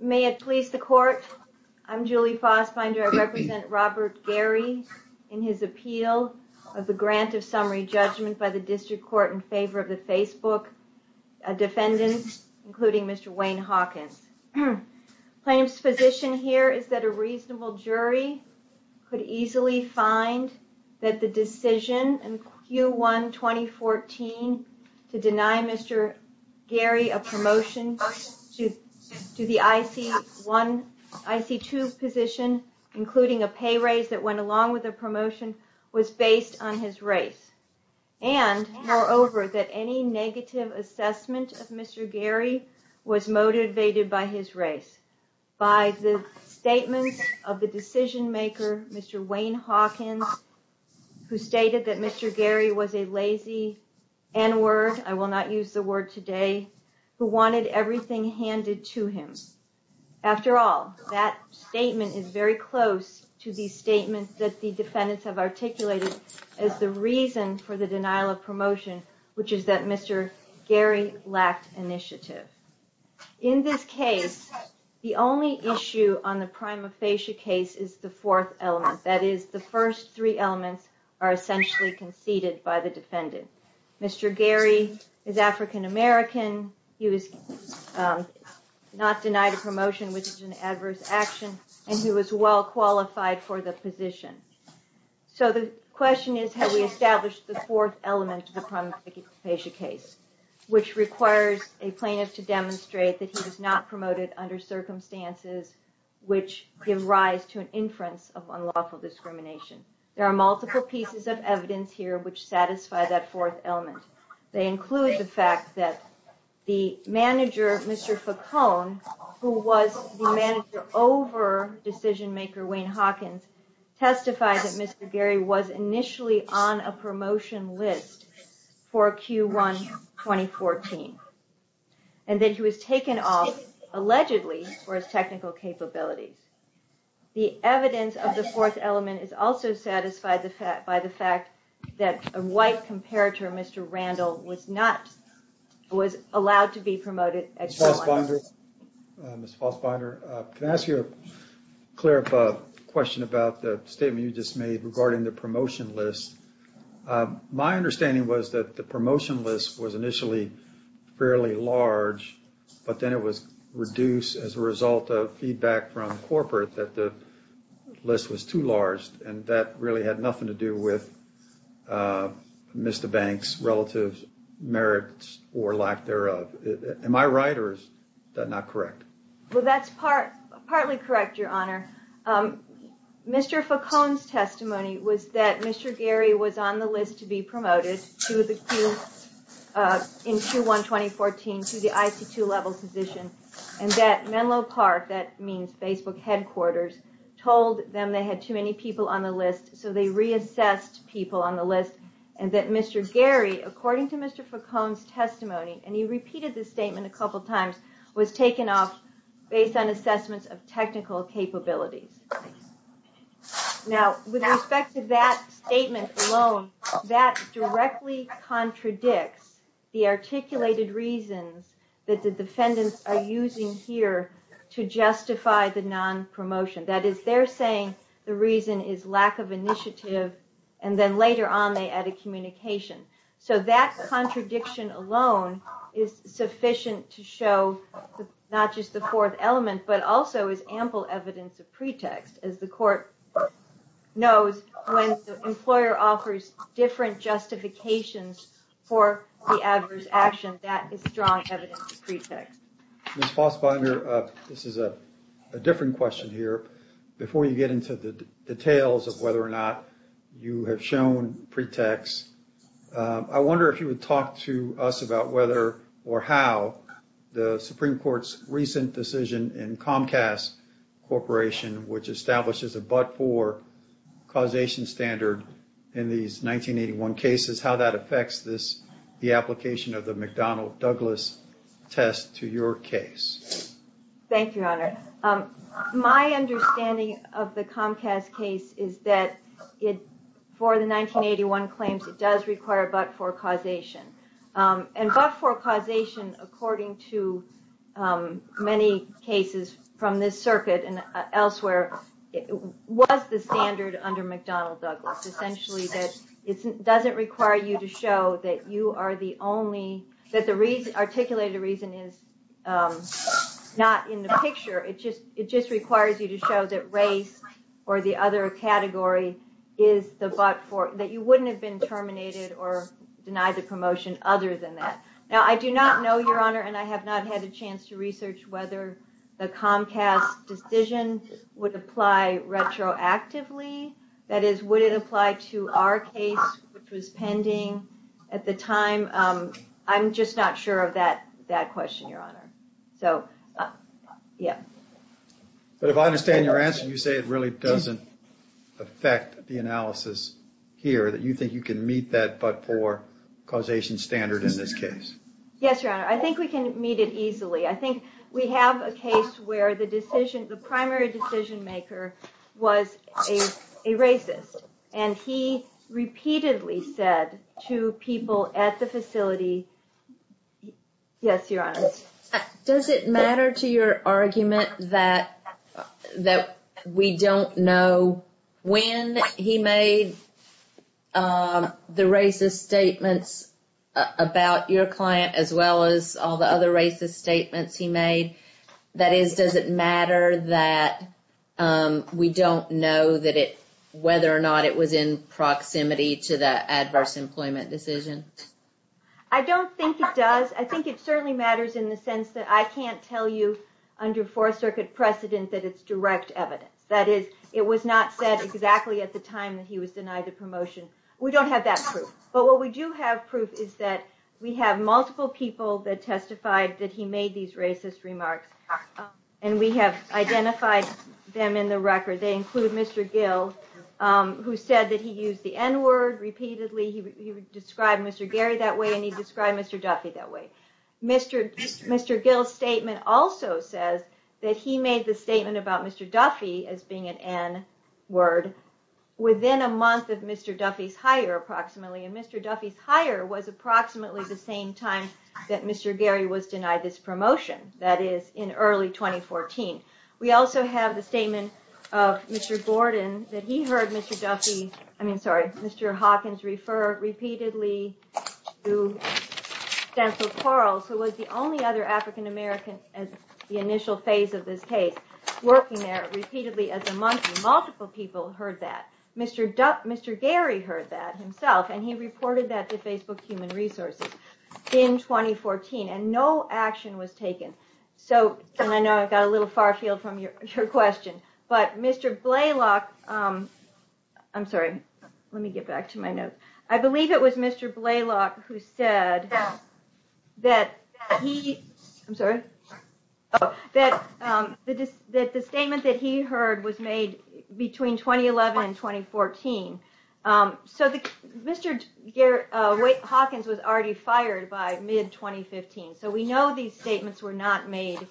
May it please the court. I'm Julie Fassbinder. I represent Robert Gary in his appeal of the grant of summary judgment by the district court in favor of the Facebook defendant, including Mr. Wayne Hawkins. Plaintiff's position here is that a reasonable jury could easily find that the decision in Q1 2014 to deny Mr. Gary a promotion to the IC-1, IC-2 position, including a pay raise that went along with a promotion, was based on his race. And, moreover, that any negative assessment of Mr. Gary was motivated by his race, by the statement of the decision maker, Mr. Wayne Hawkins, who stated that Mr. Gary was a lazy N-word, I will not use the word today, who wanted everything handed to him. After all, that statement is very close to the statement that the defendants have articulated as the reason for the denial of promotion, which is that Mr. Gary lacked initiative. In this case, the only issue on the prima facie case is the fourth element, that is, the first three elements are essentially conceded by the defendant. Mr. Gary is African American, he was not denied a promotion, which is an adverse action, and he was well qualified for the position. So the question is, have we established the fourth element of the prima facie case, which requires a plaintiff to demonstrate that he was not promoted under circumstances which give rise to an inference of unlawful discrimination. There are multiple pieces of evidence here which satisfy that fourth element. They include the fact that the manager, Mr. Facone, who was the manager over decision maker Wayne Hawkins, testified that Mr. Gary was initially on a promotion list for Q1 2014, and that he was taken off, allegedly, for his technical capabilities. The evidence of the fourth element is also satisfied by the fact that a white comparator, Mr. Randall, was not allowed to be promoted at Q1. Mr. Fosbinder, can I ask you a question about the statement you just made regarding the promotion list? My understanding was that the promotion list was initially fairly large, but then it was reduced as a result of feedback from corporate that the list was too large, and that really had nothing to do with Mr. Banks' relative merits or lack thereof. Am I right, or is that not correct? Well, that's partly correct, Your Honor. Mr. Facone's testimony was that Mr. Gary was on the list to be promoted in Q1 2014 to the IT2 level position, and that Menlo Park, that means Facebook headquarters, told them they had too many people on the list, so they reassessed people on the list, and that Mr. Gary, according to Mr. Facone's testimony, and he repeated this statement a couple times, was taken off based on assessments of technical capabilities. Now, with respect to that statement alone, that directly contradicts the articulated reasons that the defendants are using here to justify the non-promotion. That is, they're saying the reason is lack of initiative, and then later on they added communication. So that contradiction alone is sufficient to show not just the fourth element, but also is ample evidence of pretext. As the court knows, when the employer offers different justifications for the adverse action, that is strong evidence of pretext. Ms. Fosbinder, this is a different question here. Before you get into the details of whether or not you have shown pretext, I wonder if you would talk to us about whether or how the Supreme Court's recent decision in Comcast Corporation, which establishes a but-for causation standard in these 1981 cases, how that affects the application of the McDonnell-Douglas test to your case. Thank you, Your Honor. My understanding of the Comcast case is that for the 1981 claims, it does require a but-for causation. And but-for causation, according to many cases from this circuit and elsewhere, was the standard under McDonnell-Douglas. Essentially, it doesn't require you to show that the articulated reason is not in the picture. It just requires you to show that race or the other category is the but-for, that you wouldn't have been terminated or denied the promotion other than that. Now, I do not know, Your Honor, and I have not had a chance to research whether the Comcast decision would apply retroactively. That is, would it apply to our case, which was pending at the time? I'm just not sure of that question, Your Honor. But if I understand your answer, you say it really doesn't affect the analysis here, that you think you can meet that but-for causation standard in this case. Yes, Your Honor. I think we can meet it easily. I think we have a case where the primary decision-maker was a racist, and he repeatedly said to people at the facility, yes, Your Honor. Does it matter to your argument that we don't know when he made the racist statements about your client as well as all the other racist statements he made? That is, does it matter that we don't know whether or not it was in proximity to the adverse employment decision? I don't think it does. I think it certainly matters in the sense that I can't tell you under Fourth Circuit precedent that it's direct evidence. That is, it was not said exactly at the time that he was denied the promotion. We don't have that proof. But what we do have proof is that we have multiple people that testified that he made these racist remarks, and we have identified them in the record. They include Mr. Gill, who said that he used the N-word repeatedly. He described Mr. Gary that way, and he described Mr. Duffy that way. Mr. Gill's statement also says that he made the statement about Mr. Duffy as being an N-word within a month of Mr. Duffy's hire, approximately. And Mr. Duffy's hire was approximately the same time that Mr. Gary was denied this promotion, that is, in early 2014. We also have the statement of Mr. Hawkins, who was the only other African American in the initial phase of this case, working there repeatedly as a monkey. Multiple people heard that. Mr. Gary heard that himself, and he reported that to Facebook Human Resources in 2014, and no action was taken. And I know I've got a little far field from your question, but Mr. Blalock – I'm sorry, let me get back to my notes. I believe it was Mr. Blalock who said that the statement that he heard was made between 2011 and 2014. Mr. Hawkins was already fired by mid-2015, so we know these statements were not made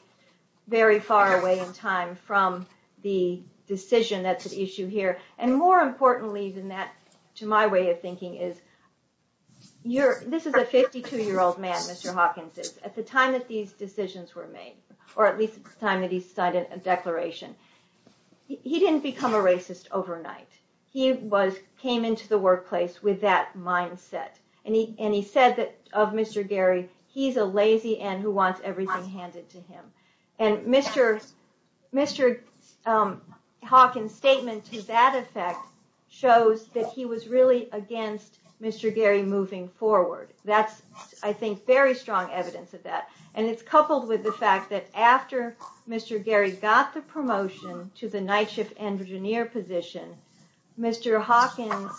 very far away in time from the decision that's at issue here. And more importantly than that, to my way of thinking, this is a 52-year-old man, Mr. Hawkins is. At the time that these decisions were made, or at least at the time that he signed a declaration, he didn't become a racist overnight. He came into the workplace with that mindset. And he said of Mr. Gary, he's a lazy ant who wants everything handed to him. And Mr. Hawkins' statement to that effect shows that he was really against Mr. Gary moving forward. That's, I think, very strong evidence of that. And it's coupled with the fact that after Mr. Gary got the promotion to the night shift engineer position, Mr. Hawkins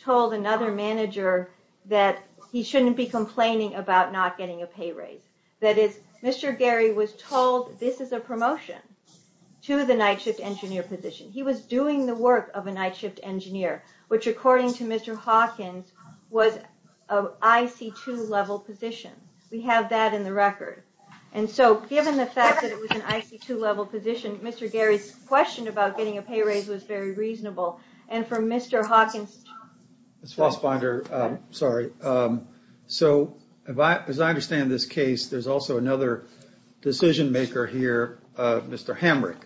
told another manager that he shouldn't be complaining about not getting a pay raise. That is, Mr. Gary was told this is a promotion to the night shift engineer position. He was doing the work of a night shift engineer, which according to Mr. Hawkins was an IC2 level position. We have that in the record. And so given the fact that it was an IC2 level position, Mr. Gary's question about getting a pay raise was very reasonable. And for Mr. Hawkins... As I understand this case, there's also another decision maker here, Mr. Hamrick,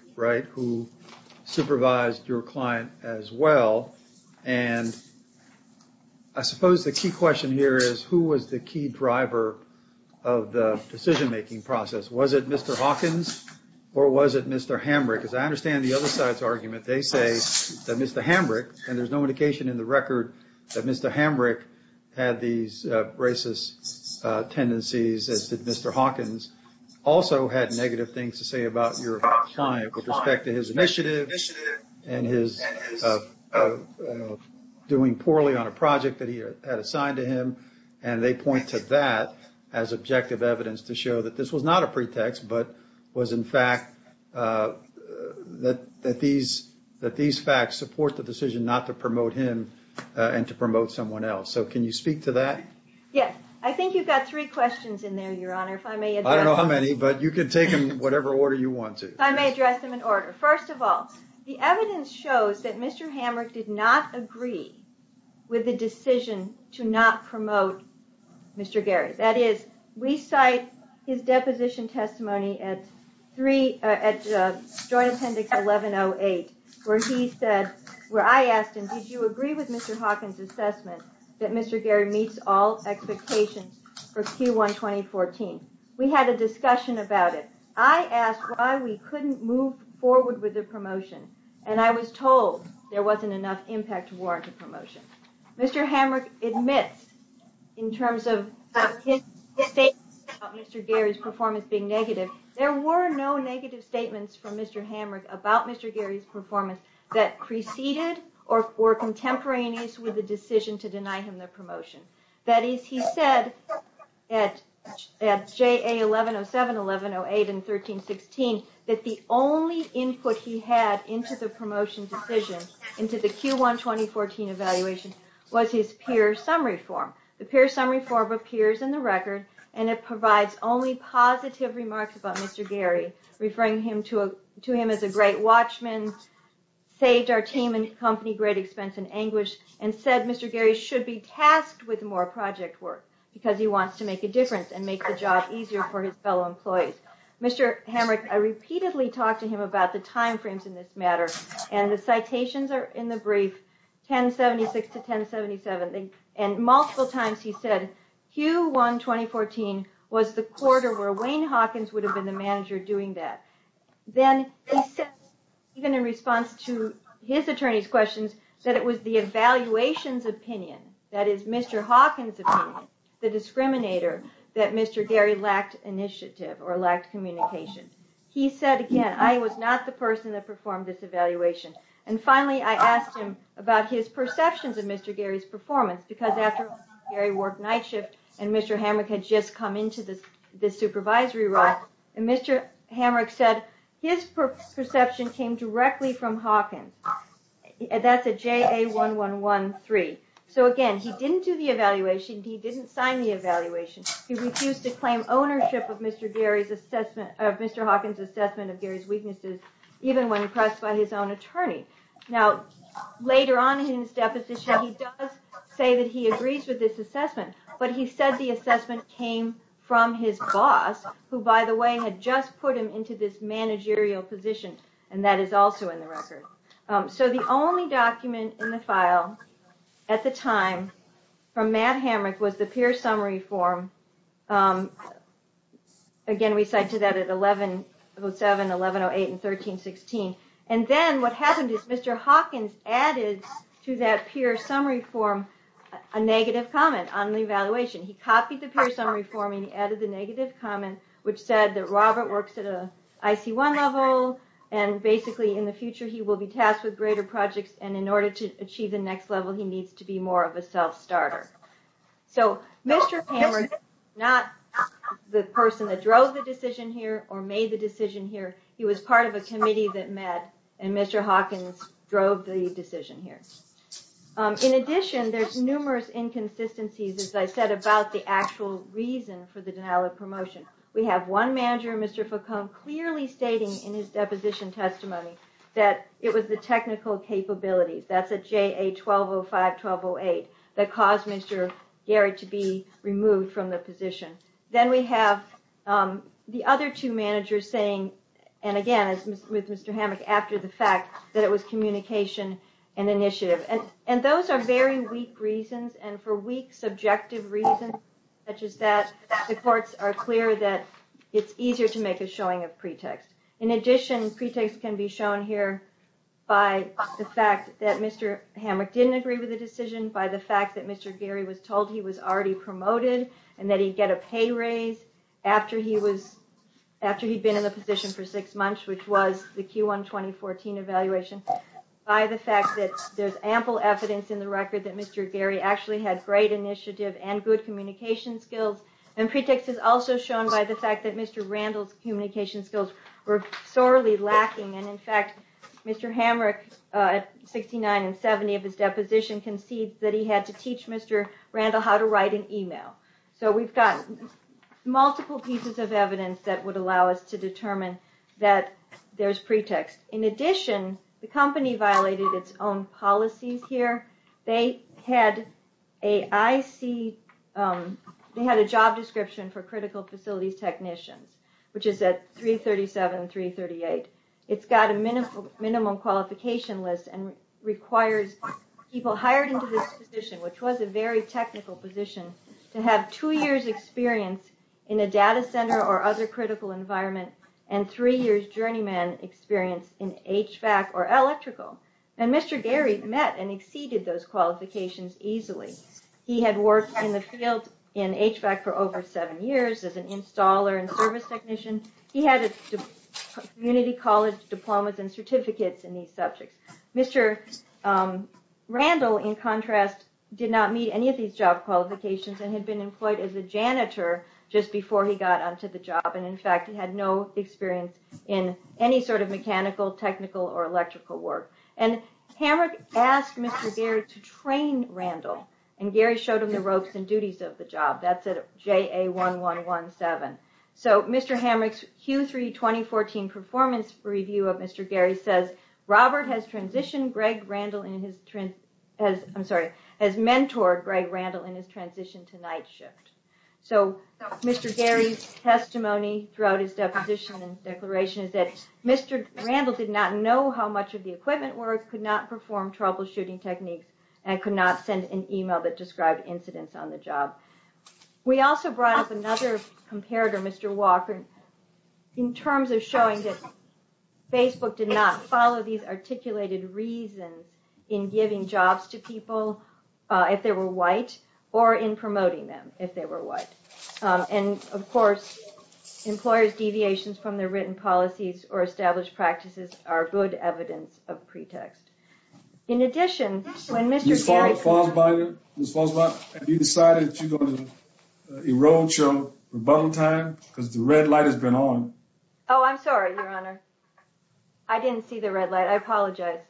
who supervised your client as well. And I suppose the key question here is, who was the key driver of the decision making process? Was it Mr. Hawkins or was it Mr. Hamrick? As I understand the other side's argument, they say that Mr. Hamrick, and there's no indication in the record that Mr. Hamrick had these racist tendencies, as did Mr. Hawkins, also had negative things to say about your client with respect to his initiative and his doing poorly on a project that he had assigned to him. And they point to that as objective evidence to show that this was not a pretext, but was in fact that these facts support the decision not to promote him and to promote someone else. So can you speak to that? Yes. I think you've got three questions in there, Your Honor, if I may address them. I don't know how many, but you can take them in whatever order you want to. If I may address them in order. First of all, the evidence shows that Mr. Hamrick did not agree with the decision to not promote Mr. Gary. That is, we cite his deposition testimony at Joint Appendix 1108, where I asked him, did you agree with Mr. Hawkins' assessment that Mr. Gary meets all expectations for Q1 2014? We had a discussion about it. I asked why we couldn't move forward with the promotion, and I was told there wasn't enough impact to warrant a promotion. Mr. Hamrick admits, in terms of his statements about Mr. Gary's performance being negative, there were no negative statements from Mr. Hamrick about Mr. Gary's performance that preceded or were contemporaneous with the decision to deny him the promotion. That is, he said at JA 1107, 1108, and 1316 that the only input he had into the promotion decision, into the Q1 2014 evaluation, was his peer summary form. The peer summary form appears in the record, and it provides only positive remarks about Mr. Gary, referring to him as a great watchman, saved our team and company great expense and anguish, and said Mr. Gary should be tasked with more project work because he wants to make a difference and make the job easier for his fellow employees. Mr. Hamrick, I repeatedly talked to him about the time frames in this matter, and the citations are in the brief, 1076 to 1077, and multiple times he said Q1 2014 was the quarter where Wayne Hawkins would have been the manager doing that. Then he said, even in response to his attorney's questions, that it was the evaluation's opinion, that is Mr. Hawkins' opinion, the discriminator, that Mr. Gary lacked initiative or lacked communication. He said again, I was not the person that performed this evaluation. Finally, I asked him about his perceptions of Mr. Gary's performance, because after Gary worked night shift, and Mr. Hamrick had just come into the supervisory role, and Mr. Hamrick said his perception came directly from Hawkins. That's a JA 1113. So again, he didn't do the evaluation, he didn't sign the evaluation, he refused to claim ownership of Mr. Hawkins' assessment of Gary's weaknesses, even when pressed by his own attorney. Now, later on in his deposition, he does say that he agrees with this assessment, but he said the assessment came from his boss, who by the way, had just put him into this managerial position, and that is also in the record. So the only document in the file at the time from Matt Hamrick was the peer summary form. Again, we cite to that at 1107, 1108, and 1316. And then what happened is Mr. Hawkins added to that peer summary form a negative comment on the evaluation. He copied the peer summary form and added the negative comment, which said that Robert works at an IC1 level, and basically in the future he will be tasked with greater projects, and in order to achieve the next level he needs to be more of a self-starter. So Mr. Hamrick is not the person that drove the decision here, or made the decision here, he was part of a committee that met, and Mr. Hawkins drove the decision here. In addition, there's numerous inconsistencies, as I said, about the actual reason for the denial of promotion. We have one manager, Mr. Foucault, clearly stating in his deposition testimony that it was the technical capabilities, that's at JA 1205, 1208, that caused Mr. Garrett to be removed from the position. Then we have the other two managers saying, and again it's with Mr. Hamrick after the fact, that it was communication and initiative. And those are very weak reasons, and for weak subjective reasons such as that, the courts are clear that it's easier to make a showing of pretext. In addition, pretext can be shown here by the fact that Mr. Hamrick didn't agree with the decision, by the fact that Mr. Gary was told he was already promoted, and that he'd get a pay raise after he'd been in the position for six months, which was the Q1 2014 evaluation, by the fact that there's ample evidence in the record that Mr. Gary actually had great initiative and good communication skills. And pretext is also shown by the fact that Mr. Randall's communication skills were sorely lacking, and in fact, Mr. Hamrick at 69 and 70 of his deposition concedes that he had to teach Mr. Randall how to write an email. So we've got multiple pieces of evidence that would allow us to determine that there's pretext. In addition, the company violated its own policies here. They had a job description for critical facilities technicians, which is at 337 and 338. It's got a minimum qualification list and requires people hired into this position, which was a very technical position, to have two years' experience in a data center or other critical environment and three years' journeyman experience. And Mr. Gary met and exceeded those qualifications easily. He had worked in the field in HVAC for over seven years as an installer and service technician. He had community college diplomas and certificates in these subjects. Mr. Randall, in contrast, did not meet any of these job qualifications and had been employed as a janitor just before he got onto the job. And in fact, he had no experience in any sort of mechanical, technical, or electrical work. And Hamrick asked Mr. Gary to train Randall, and Gary showed him the ropes and duties of the job. That's at JA1117. So Mr. Hamrick's Q3 2014 performance review of Mr. Gary says, Robert has transitioned Greg Randall in his – I'm sorry – has mentored Greg Randall in his transition to night shift. So Mr. Gary's testimony throughout his deposition and declaration is that Mr. Randall did not know how much of the equipment work, could not perform troubleshooting techniques, and could not send an email that described incidents on the job. We also brought up another comparator, Mr. Walker, in terms of showing that Facebook did not follow these articulated reasons in giving jobs to people if they were white or in promoting them if they were white. And of course, employers' deviations from their written policies or established practices are good evidence of pretext. In addition, when Mr. Gary – Ms. Fosbinder, Ms. Fosbinder, have you decided that you're going to erode your rebuttal time? Because the red light has been on. Oh, I'm sorry, Your Honor. I didn't see the red light. I apologize.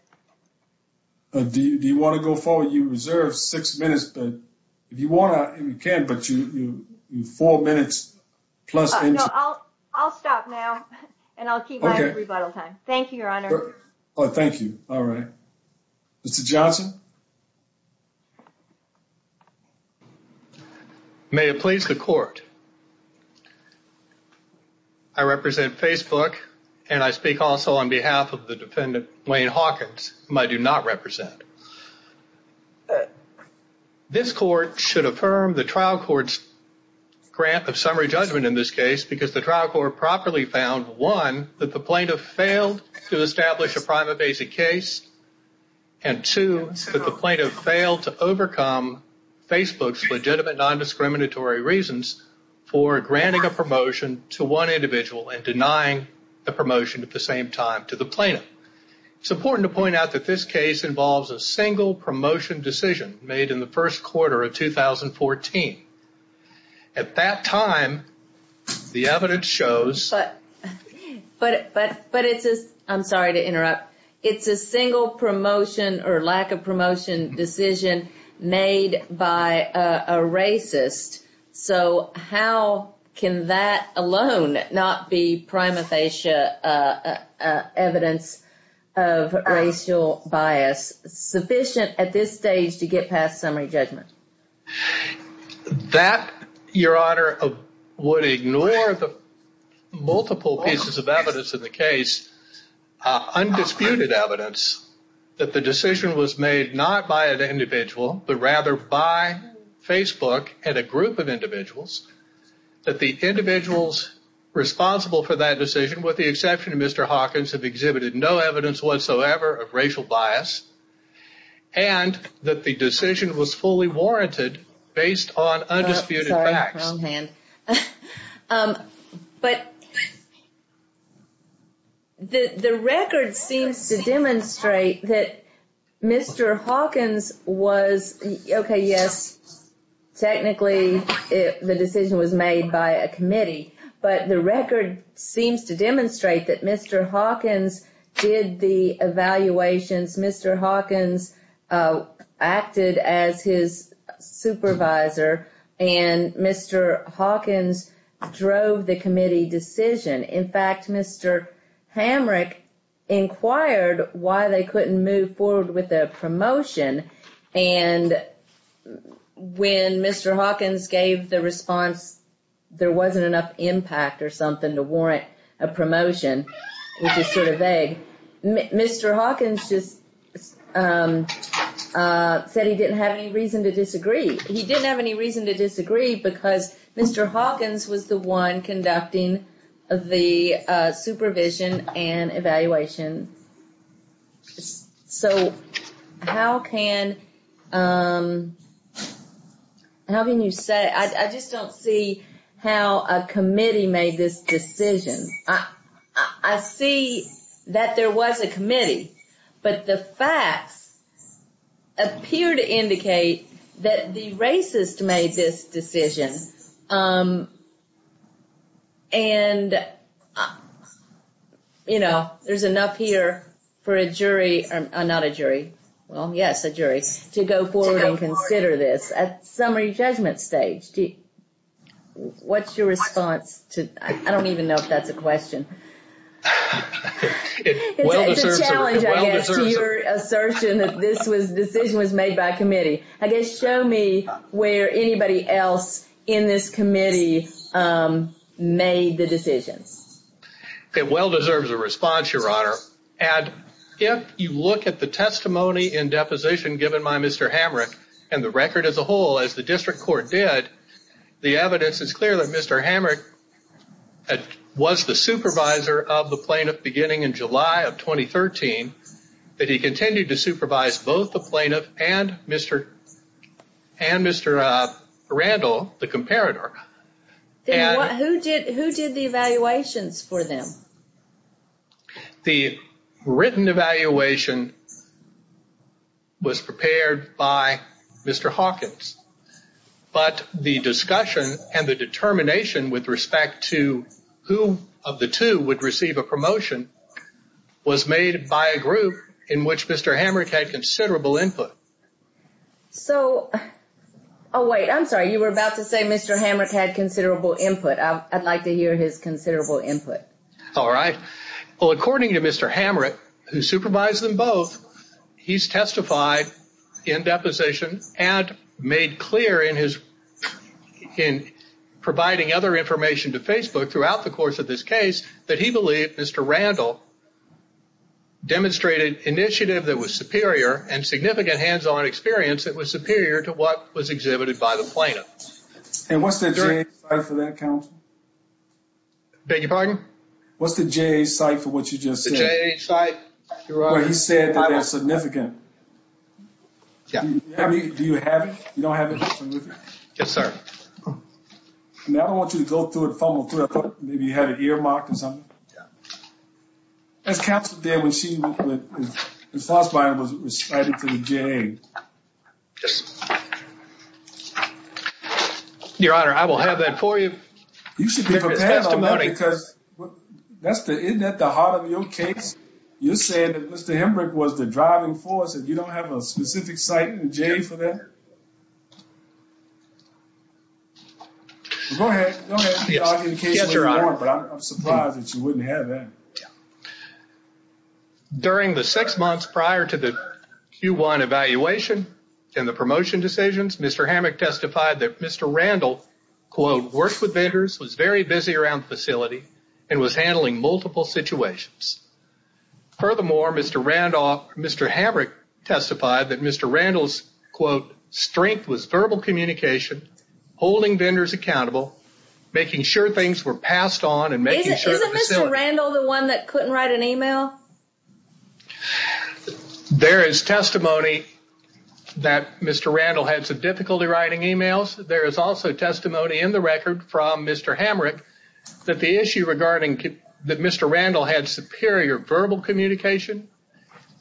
Do you want to go forward? You reserved six minutes, but if you want to, you can, but you have four minutes plus – No, I'll stop now, and I'll keep my rebuttal time. Thank you, Your Honor. Oh, thank you. All right. Mr. Johnson? May it please the Court, I represent Facebook, and I speak also on behalf of the defendant, Wayne Hawkins, whom I do not represent. This Court should affirm the trial court's grant of summary judgment in this case because the trial court properly found, one, that the plaintiff failed to establish a prima facie case, and two, that the plaintiff failed to overcome Facebook's legitimate nondiscriminatory reasons for granting a promotion to one individual and denying the promotion at the same time to the plaintiff. It's important to point out that this case involves a single promotion decision made in the first quarter of 2014. At that time, the evidence shows – I'm sorry to interrupt. It's a single promotion or lack of promotion decision made by a racist, so how can that alone not be prima facie evidence of racial bias sufficient at this stage to get past summary judgment? That, Your Honor, would ignore the multiple pieces of evidence in the case, undisputed evidence that the decision was made not by an individual, but rather by Facebook and a group of individuals, that the individuals responsible for that decision, with the exception of Mr. Hawkins, have exhibited no evidence whatsoever of racial bias, and that the decision was fully warranted based on undisputed facts. But the record seems to demonstrate that Mr. Hawkins was – okay, yes, technically the decision was made by a committee, but the record seems to demonstrate that Mr. Hawkins did the evaluations. Mr. Hawkins acted as his supervisor, and Mr. Hawkins drove the committee decision. In fact, Mr. Hamrick inquired why they couldn't move forward with a promotion, and when Mr. Hawkins gave the response there wasn't enough impact or something to warrant a promotion, which is sort of vague, Mr. Hawkins just said he didn't have any reason to disagree. He didn't have any reason to disagree because Mr. Hawkins was the one conducting the supervision and evaluation. So, how can you say – I just don't see how a committee made this decision. I see that there was a committee, but the facts appear to indicate that the racist made this decision. And, you know, there's enough here for a jury – not a jury, well, yes, a jury – to go forward and consider this. At summary judgment stage, what's your response to – I don't even know if that's a question. It's a challenge, I guess, to your assertion that this decision was made by a committee. I guess, show me where anybody else in this committee made the decisions. It well deserves a response, Your Honor, and if you look at the testimony in deposition given by Mr. Hamrick and the record as a whole, as the district court did, the evidence is clear that Mr. Hamrick was the supervisor of the plaintiff beginning in July of 2013, that he continued to supervise both the plaintiff and Mr. Randall, the comparator. Who did the evaluations for them? The written evaluation was prepared by Mr. Hawkins, but the discussion and the determination with respect to who of the two would receive a promotion was made by a group in which Mr. Hamrick had considerable input. So – oh, wait, I'm sorry, you were about to say Mr. Hamrick had considerable input. I'd like to hear his considerable input. All right. Well, according to Mr. Hamrick, who supervised them both, he's testified in deposition and made clear in his – in providing other information to Facebook throughout the course of this case that he believed Mr. Randall demonstrated initiative that was superior and significant hands-on experience that was superior to what was exhibited by the plaintiff. And what's the jury's side for that, counsel? Beg your pardon? What's the J.A.'s side for what you just said? The J.A.'s side, Your Honor. Where he said that they're significant. Yeah. Do you have it? You don't have it? Yes, sir. I mean, I don't want you to go through it and fumble through it. I thought maybe you had it earmarked or something. Yeah. As counsel did when she was – when Fassbein was responding to the J.A. Yes, sir. Your Honor, I will have that for you. You should be prepared on that because that's the – isn't that the heart of your case? You're saying that Mr. Hembrick was the driving force and you don't have a specific site in the J.A. for that? Go ahead. Go ahead. Yes, Your Honor. But I'm surprised that you wouldn't have that. During the six months prior to the Q1 evaluation and the promotion decisions, Mr. Hembrick testified that Mr. Randall, quote, worked with vendors, was very busy around the facility, and was handling multiple situations. Furthermore, Mr. Randall – Mr. Hembrick testified that Mr. Randall's, quote, strength was verbal communication, holding vendors accountable, making sure things were passed on, and making sure the facility – Was Mr. Randall the one that couldn't write an email? There is testimony that Mr. Randall had some difficulty writing emails. There is also testimony in the record from Mr. Hembrick that the issue regarding – that Mr. Randall had superior verbal communication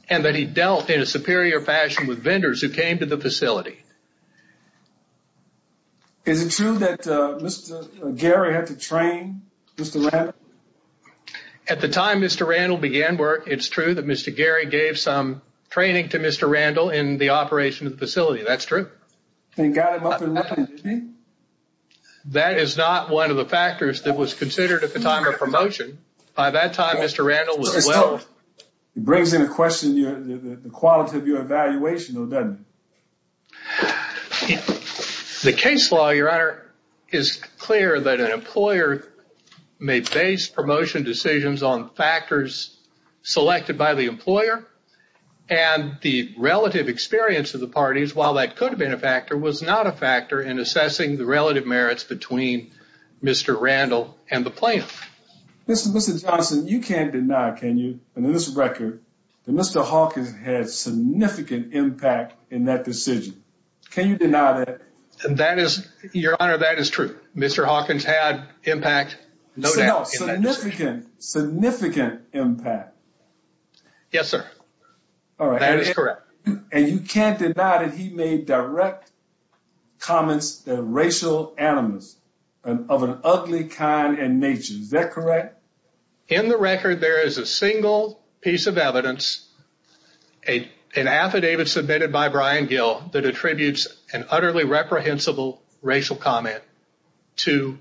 and that he dealt in a superior fashion with vendors who came to the facility. Is it true that Mr. – Gary had to train Mr. Randall? At the time Mr. Randall began work, it's true that Mr. Gary gave some training to Mr. Randall in the operation of the facility. That's true. And got him up and running, didn't he? That is not one of the factors that was considered at the time of promotion. By that time, Mr. Randall was well – It brings into question the quality of your evaluation, though, doesn't it? The case law, Your Honor, is clear that an employer may base promotion decisions on factors selected by the employer. And the relative experience of the parties, while that could have been a factor, was not a factor in assessing the relative merits between Mr. Randall and the plaintiff. Mr. Johnson, you can't deny, can you, in this record, that Mr. Hawkins had significant impact in that decision. Can you deny that? That is – Your Honor, that is true. Mr. Hawkins had impact, no doubt, in that decision. Significant, significant impact. Yes, sir. That is correct. And you can't deny that he made direct comments that are racial animus of an ugly kind in nature. Is that correct? In the record, there is a single piece of evidence, an affidavit submitted by Brian Gill, that attributes an utterly reprehensible racial comment to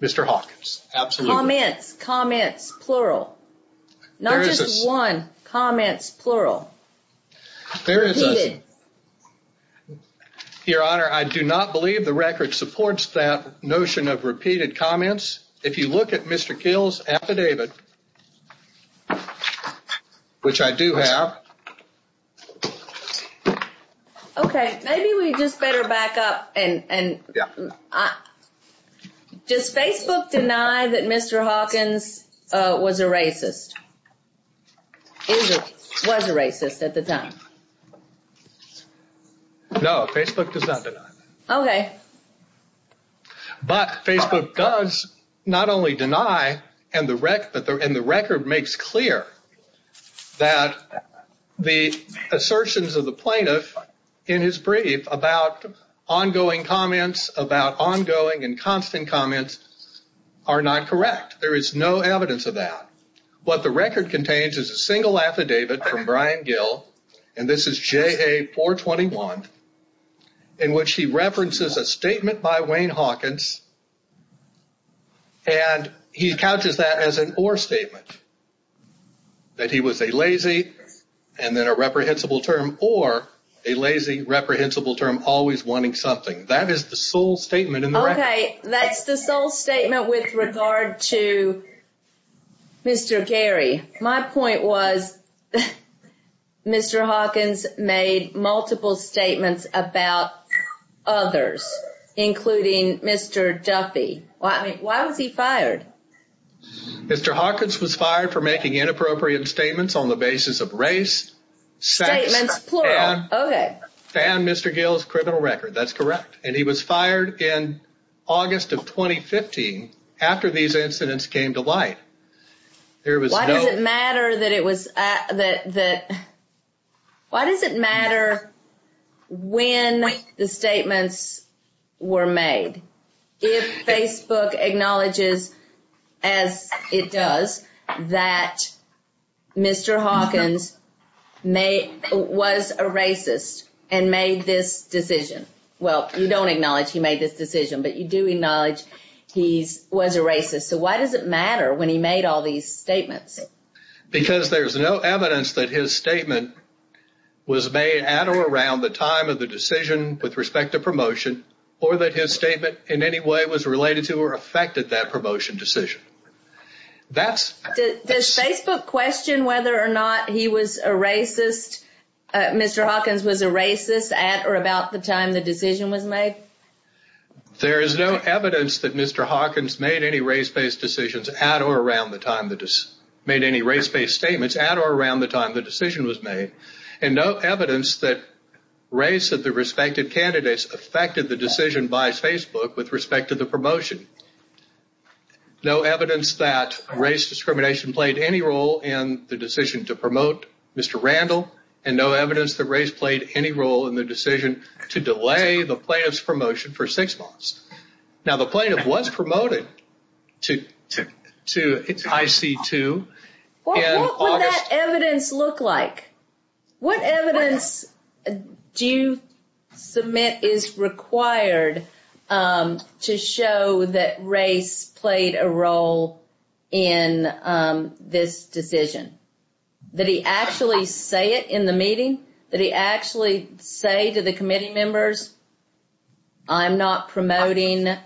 Mr. Hawkins. Comments. Comments. Plural. Not just one. Comments. Plural. Repeated. Your Honor, I do not believe the record supports that notion of repeated comments. If you look at Mr. Gill's affidavit, which I do have – Okay. Maybe we just better back up and – Yeah. Does Facebook deny that Mr. Hawkins was a racist? Was a racist at the time? No, Facebook does not deny that. Okay. But Facebook does not only deny, and the record makes clear that the assertions of the plaintiff in his brief about ongoing comments, about ongoing and constant comments, are not correct. There is no evidence of that. What the record contains is a single affidavit from Brian Gill, and this is JA 421, in which he references a statement by Wayne Hawkins, and he couches that as an or statement. That he was a lazy, and then a reprehensible term, or a lazy, reprehensible term, always wanting something. That is the sole statement in the record. Okay. That's the sole statement with regard to Mr. Gary. My point was, Mr. Hawkins made multiple statements about others, including Mr. Duffy. Why was he fired? Mr. Hawkins was fired for making inappropriate statements on the basis of race, sex – Statements, plural. Okay. And Mr. Gill's criminal record. That's correct. And he was fired in August of 2015, after these incidents came to light. Why does it matter that it was – why does it matter when the statements were made, if Facebook acknowledges, as it does, that Mr. Hawkins was a racist and made this decision? Well, you don't acknowledge he made this decision, but you do acknowledge he was a racist. So why does it matter when he made all these statements? Because there's no evidence that his statement was made at or around the time of the decision with respect to promotion, or that his statement in any way was related to or affected that promotion decision. Does Facebook question whether or not he was a racist – Mr. Hawkins was a racist at or about the time the decision was made? There is no evidence that Mr. Hawkins made any race-based decisions at or around the time – made any race-based statements at or around the time the decision was made. And no evidence that race of the respective candidates affected the decision by Facebook with respect to the promotion. No evidence that race discrimination played any role in the decision to promote Mr. Randall. And no evidence that race played any role in the decision to delay the plaintiff's promotion for six months. Now the plaintiff was promoted to IC2 in August – What would that evidence look like? What evidence do you submit is required to show that race played a role in this decision? Did he actually say it in the meeting? Did he actually say to the committee members, I'm not promoting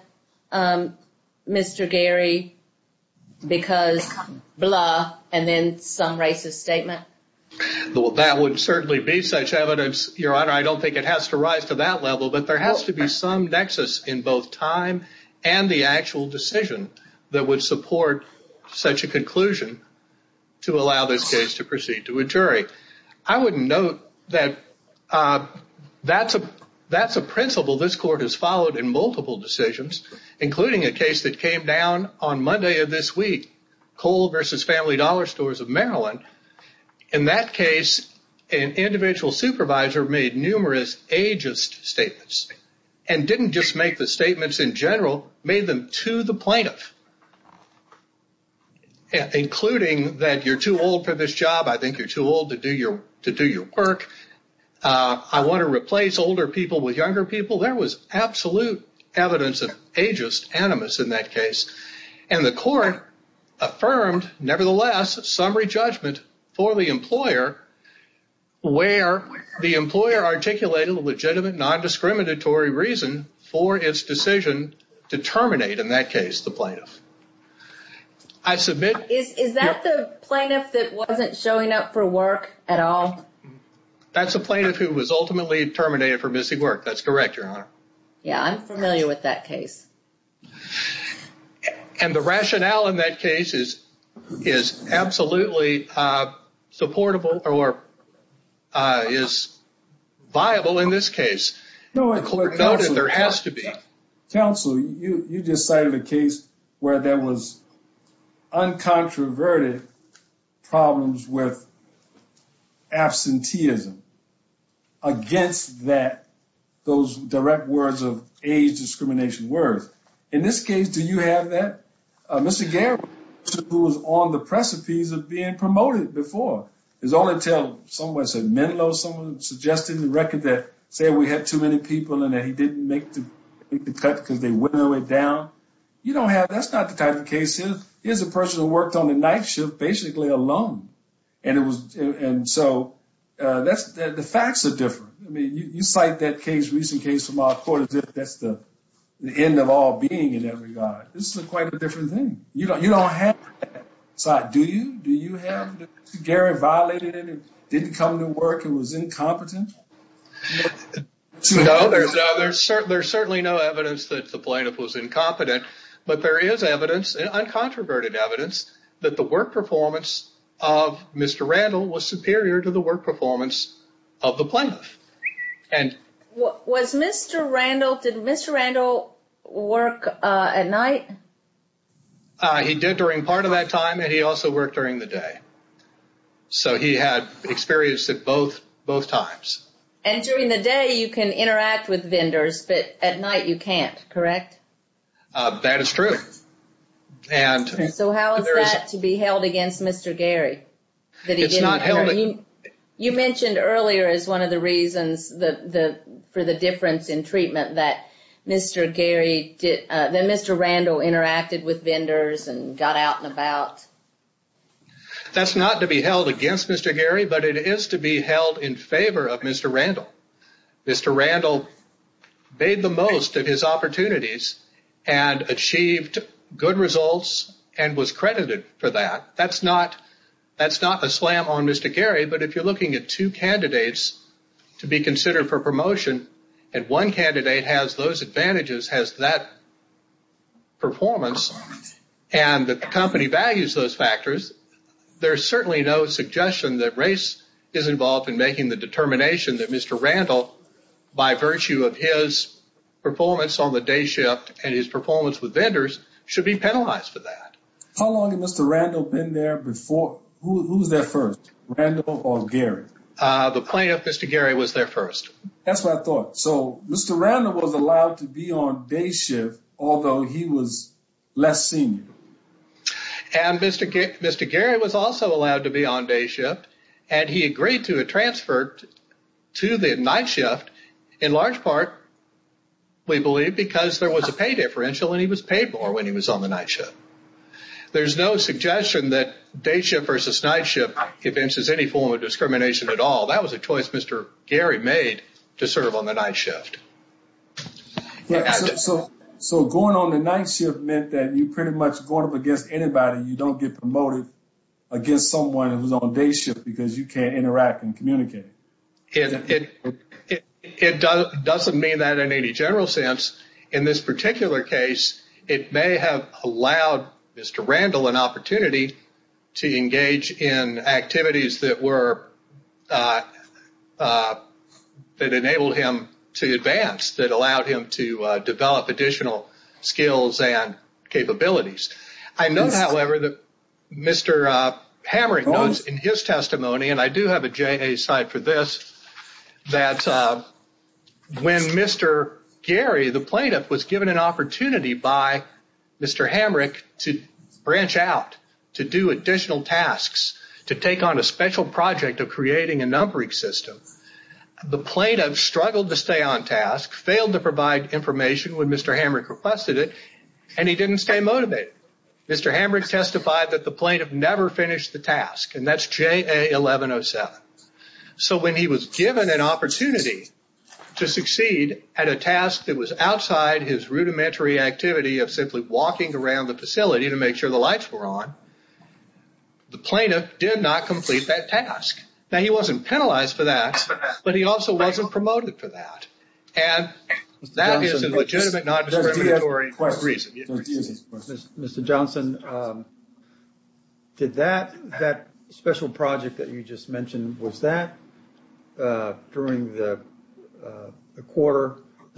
Mr. Gary because blah, and then some racist statement? That would certainly be such evidence, Your Honor. I don't think it has to rise to that level. But there has to be some nexus in both time and the actual decision that would support such a conclusion to allow this case to proceed to a jury. I would note that that's a principle this court has followed in multiple decisions, including a case that came down on Monday of this week, Cole v. Family Dollar Stores of Maryland. In that case, an individual supervisor made numerous ageist statements and didn't just make the statements in general, made them to the plaintiff, including that you're too old for this job, I think you're too old to do your work, I want to replace older people with younger people. There was absolute evidence of ageist animus in that case. And the court affirmed, nevertheless, summary judgment for the employer, where the employer articulated a legitimate non-discriminatory reason for its decision to terminate, in that case, the plaintiff. Is that the plaintiff that wasn't showing up for work at all? That's a plaintiff who was ultimately terminated for missing work. That's correct, Your Honor. Yeah, I'm familiar with that case. And the rationale in that case is absolutely supportable or is viable in this case. The court noted there has to be. Counsel, you just cited a case where there was uncontroverted problems with absenteeism against that, those direct words of age discrimination words. In this case, do you have that? Mr. Garrett, who was on the precipice of being promoted before, is only until someone said Menlo, someone suggested in the record that, say we had too many people and that he didn't make the cut because they went all the way down. You don't have, that's not the type of case. Here's a person who worked on the night shift basically alone. And so the facts are different. You cite that case, recent case from our court, as if that's the end of all being in that regard. This is quite a different thing. You don't have that side. Do you? Do you have, Mr. Garrett, violated it and didn't come to work and was incompetent? No, there's certainly no evidence that the plaintiff was incompetent. But there is evidence, uncontroverted evidence, that the work performance of Mr. Randall was superior to the work performance of the plaintiff. Was Mr. Randall, did Mr. Randall work at night? He did during part of that time and he also worked during the day. So he had experience at both times. And during the day you can interact with vendors, but at night you can't, correct? That is true. So how is that to be held against Mr. Gary? It's not held against him. You mentioned earlier as one of the reasons for the difference in treatment that Mr. Randall interacted with vendors and got out and about. That's not to be held against Mr. Gary, but it is to be held in favor of Mr. Randall. Mr. Randall made the most of his opportunities and achieved good results and was credited for that. That's not a slam on Mr. Gary, but if you're looking at two candidates to be considered for promotion and one candidate has those advantages, has that performance, and the company values those factors, there's certainly no suggestion that race is involved in making the determination that Mr. Randall, by virtue of his performance on the day shift and his performance with vendors, should be penalized for that. How long had Mr. Randall been there before? Who was there first, Randall or Gary? The plaintiff, Mr. Gary, was there first. That's what I thought. So Mr. Randall was allowed to be on day shift, although he was less senior. And Mr. Gary was also allowed to be on day shift, and he agreed to a transfer to the night shift in large part, we believe, because there was a pay differential and he was paid more when he was on the night shift. There's no suggestion that day shift versus night shift evinces any form of discrimination at all. That was a choice Mr. Gary made to serve on the night shift. So going on the night shift meant that you pretty much going up against anybody, you don't get promoted against someone who's on day shift because you can't interact and communicate. It doesn't mean that in any general sense. In this particular case, it may have allowed Mr. Randall an opportunity to engage in activities that enabled him to advance, that allowed him to develop additional skills and capabilities. I note, however, that Mr. Hamrick notes in his testimony, and I do have a J.A. cite for this, that when Mr. Gary, the plaintiff, was given an opportunity by Mr. Hamrick to branch out, to do additional tasks, to take on a special project of creating a numbering system, the plaintiff struggled to stay on task, failed to provide information when Mr. Hamrick requested it, and he didn't stay motivated. Mr. Hamrick testified that the plaintiff never finished the task, and that's J.A. 1107. So when he was given an opportunity to succeed at a task that was outside his rudimentary activity of simply walking around the facility to make sure the lights were on, the plaintiff did not complete that task. Now, he wasn't penalized for that, but he also wasn't promoted for that. And that is a legitimate non-discriminatory reason. Mr. Johnson, did that special project that you just mentioned, was that during the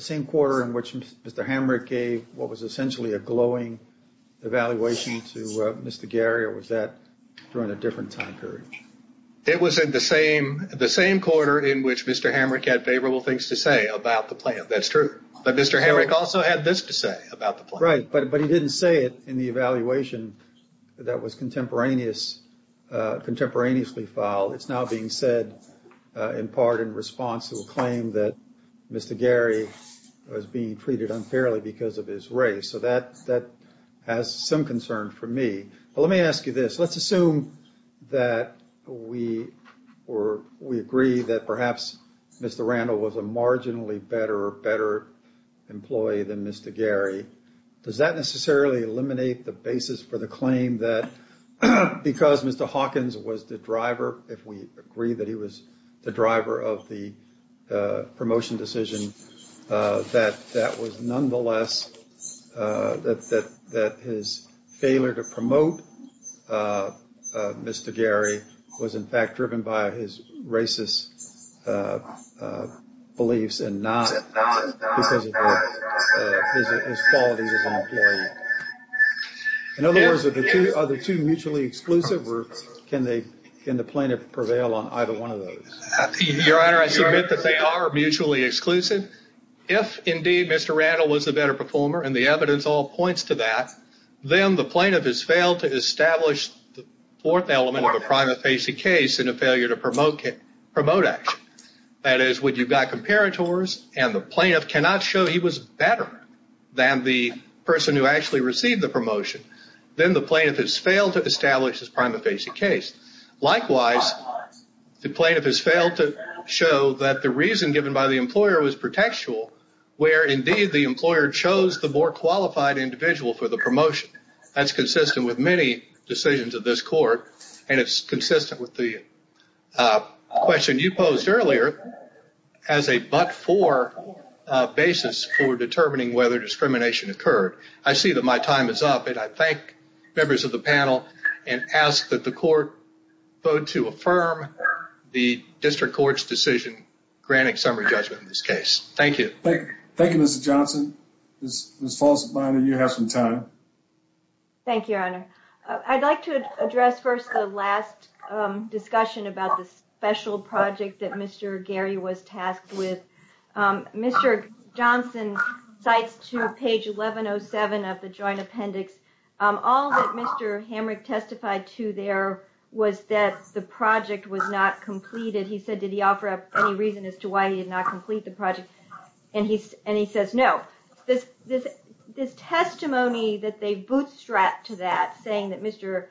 same quarter in which Mr. Hamrick gave what was essentially a glowing evaluation to Mr. Gary, or was that during a different time period? It was in the same quarter in which Mr. Hamrick had favorable things to say about the plaintiff. That's true. But Mr. Hamrick also had this to say about the plaintiff. Right, but he didn't say it in the evaluation that was contemporaneously filed. He said in part in response to a claim that Mr. Gary was being treated unfairly because of his race. So that has some concern for me. But let me ask you this. Let's assume that we agree that perhaps Mr. Randall was a marginally better employee than Mr. Gary. Does that necessarily eliminate the basis for the claim that because Mr. Hawkins was the driver, if we agree that he was the driver of the promotion decision, that that was nonetheless, that his failure to promote Mr. Gary was in fact driven by his racist beliefs, and not because of his qualities as an employee? In other words, are the two mutually exclusive, or can the plaintiff prevail on either one of those? Your Honor, I submit that they are mutually exclusive. If indeed Mr. Randall was a better performer, and the evidence all points to that, then the plaintiff has failed to establish the fourth element of a prima facie case in a failure to promote action. That is, when you've got comparators, and the plaintiff cannot show he was better than the person who actually received the promotion, then the plaintiff has failed to establish his prima facie case. Likewise, the plaintiff has failed to show that the reason given by the employer was pretextual, where indeed the employer chose the more qualified individual for the promotion. That's consistent with many decisions of this court, and it's consistent with the question you posed earlier, as a but-for basis for determining whether discrimination occurred. I see that my time is up, and I thank members of the panel, and ask that the court vote to affirm the District Court's decision granting summary judgment in this case. Thank you. Thank you, Mr. Johnson. Ms. Folsom-Binder, you have some time. Thank you, Your Honor. I'd like to address first the last discussion about the special project that Mr. Gary was tasked with. Mr. Johnson cites to page 1107 of the joint appendix, all that Mr. Hamrick testified to there was that the project was not completed. He said, did he offer up any reason as to why he did not complete the project? And he says, no. This testimony that they bootstrapped to that, saying that Mr.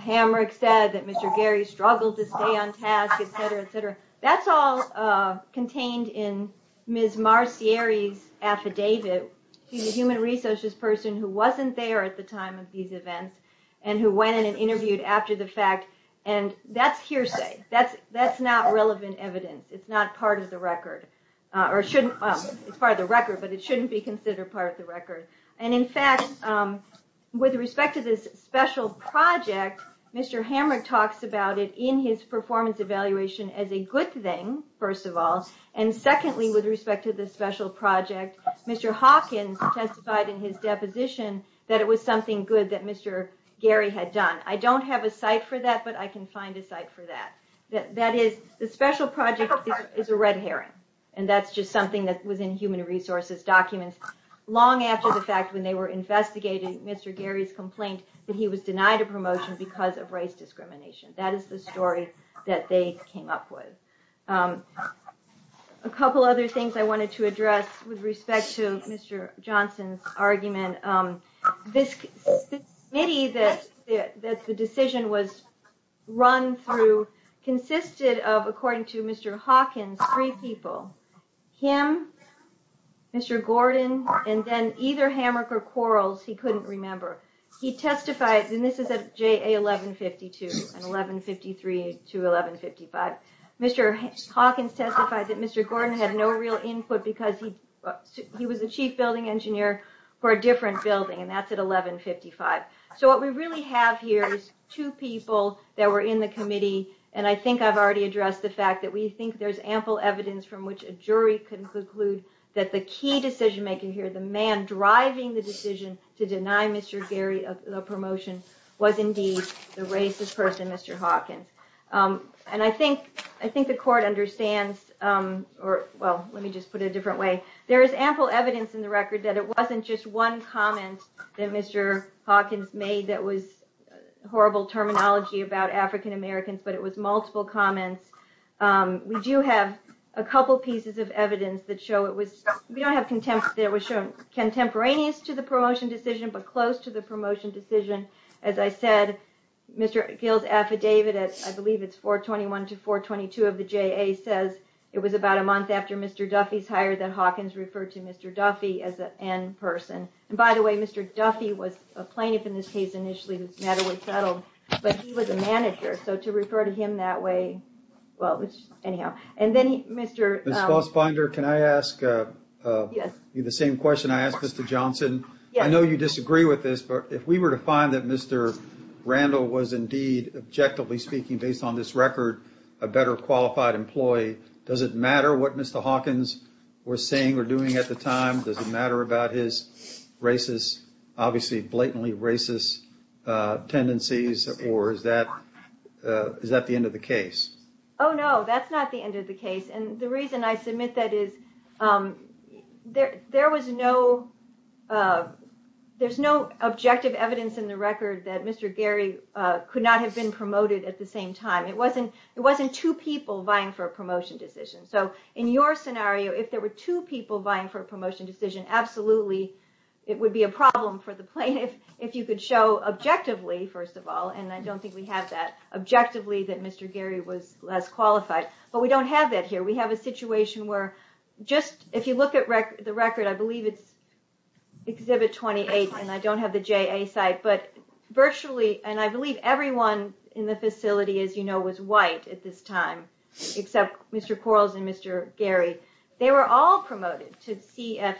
Hamrick said that Mr. Gary struggled to stay on task, etc., etc., that's all contained in Ms. Marcieri's affidavit. She's a human resources person who wasn't there at the time of these events, and who went in and interviewed after the fact, and that's hearsay. That's not relevant evidence. It's not part of the record. It's part of the record, but it shouldn't be considered part of the record. And in fact, with respect to this special project, Mr. Hamrick talks about it in his performance evaluation as a good thing, first of all. And secondly, with respect to the special project, Mr. Hawkins testified in his deposition that it was something good that Mr. Gary had done. I don't have a cite for that, but I can find a cite for that. That is, the special project is a red herring. And that's just something that was in human resources documents, long after the fact when they were investigating Mr. Gary's complaint that he was denied a promotion because of race discrimination. That is the story that they came up with. A couple other things I wanted to address with respect to Mr. Johnson's argument. This committee that the decision was run through consisted of, according to Mr. Hawkins, three people. Him, Mr. Gordon, and then either Hamrick or Quarles, he couldn't remember. He testified, and this is at JA 1152 and 1153 to 1155. Mr. Hawkins testified that Mr. Gordon had no real input because he was the chief building engineer for a different building, and that's at 1155. So what we really have here is two people that were in the committee, and I think I've already addressed the fact that we think there's ample evidence that the jury can conclude that the key decision maker here, the man driving the decision to deny Mr. Gary a promotion, was indeed the racist person, Mr. Hawkins. And I think the court understands, or well, let me just put it a different way. There is ample evidence in the record that it wasn't just one comment that Mr. Hawkins made that was horrible terminology about African Americans, but it was multiple comments. We do have a couple pieces of evidence that show it was, we don't have, it was shown contemporaneous to the promotion decision, but close to the promotion decision. As I said, Mr. Gill's affidavit, I believe it's 421 to 422 of the JA, says it was about a month after Mr. Duffy's hire that Hawkins referred to Mr. Duffy as an N person. And by the way, Mr. Duffy was a plaintiff in this case initially, whose matter was settled, but he was a manager, so to refer to him that way, well, anyhow, and then Mr. Ms. Fossbinder, can I ask you the same question I asked Mr. Johnson? I know you disagree with this, but if we were to find that Mr. Randall was indeed, objectively speaking, based on this record, a better qualified employee, does it matter what Mr. Hawkins was saying or doing at the time? Does it matter about his racist, obviously blatantly racist, tendencies, or is that the end of the case? Oh, no, that's not the end of the case. And the reason I submit that is, there was no, there's no objective evidence in the record that Mr. Gary could not have been promoted at the same time. It wasn't two people vying for a promotion decision. So, in your scenario, if there were two people vying for a promotion decision, absolutely, it would be a problem for the plaintiff if you could show objectively, first of all, and I don't think we have that, objectively, that Mr. Gary was less qualified, but we don't have that here. We have a situation where, just, if you look at the record, I believe it's Exhibit 28, and I don't have the JA site, but virtually, and I believe everyone in the facility, as you know, was white at this time, except Mr. Quarles and Mr. Gary. They were all promoted to CF,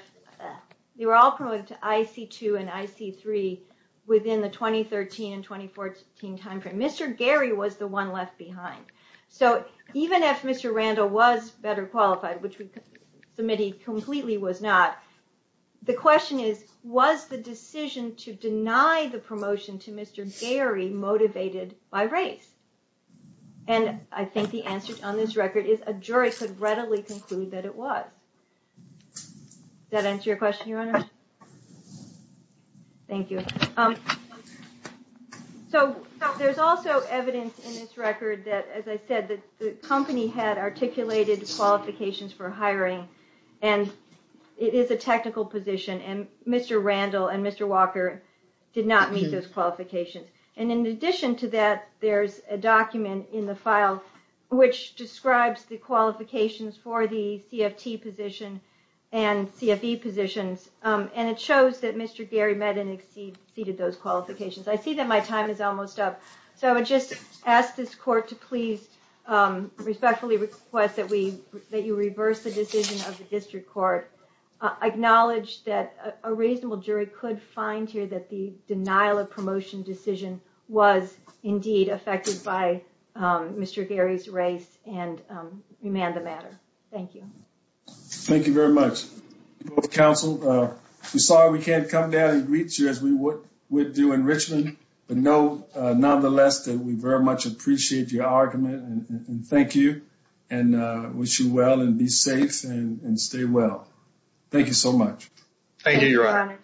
they were all promoted to IC2 and IC3 within the 2013 and 2014 timeframe. Mr. Gary was the one left behind. So, even if Mr. Randall was better qualified, which we submitted completely was not, the question is, was the decision to deny the promotion to Mr. Gary motivated by race? And I think the answer on this record is, a jury could readily conclude that it was. Does that answer your question, Your Honor? Thank you. So, there's also evidence in this record that, as I said, the company had articulated qualifications for hiring, and it is a technical position, and Mr. Randall and Mr. Walker did not meet those qualifications. And in addition to that, there's a document in the file which describes the qualifications for the CFT position and CFE positions, and it shows that Mr. Gary met and exceeded those qualifications. I see that my time is almost up, so I would just ask this court to please respectfully request that we, that you reverse the decision of the district court. Acknowledge that a reasonable jury could find here that the denial of promotion decision was indeed affected by Mr. Gary's race and remand the matter. Thank you. Thank you very much. Counsel, we're sorry we can't come down and greet you as we would do in Richmond, but know, nonetheless, that we very much appreciate your argument, and thank you, and wish you well, and be safe, and stay well. Thank you so much. Thank you, Your Honor.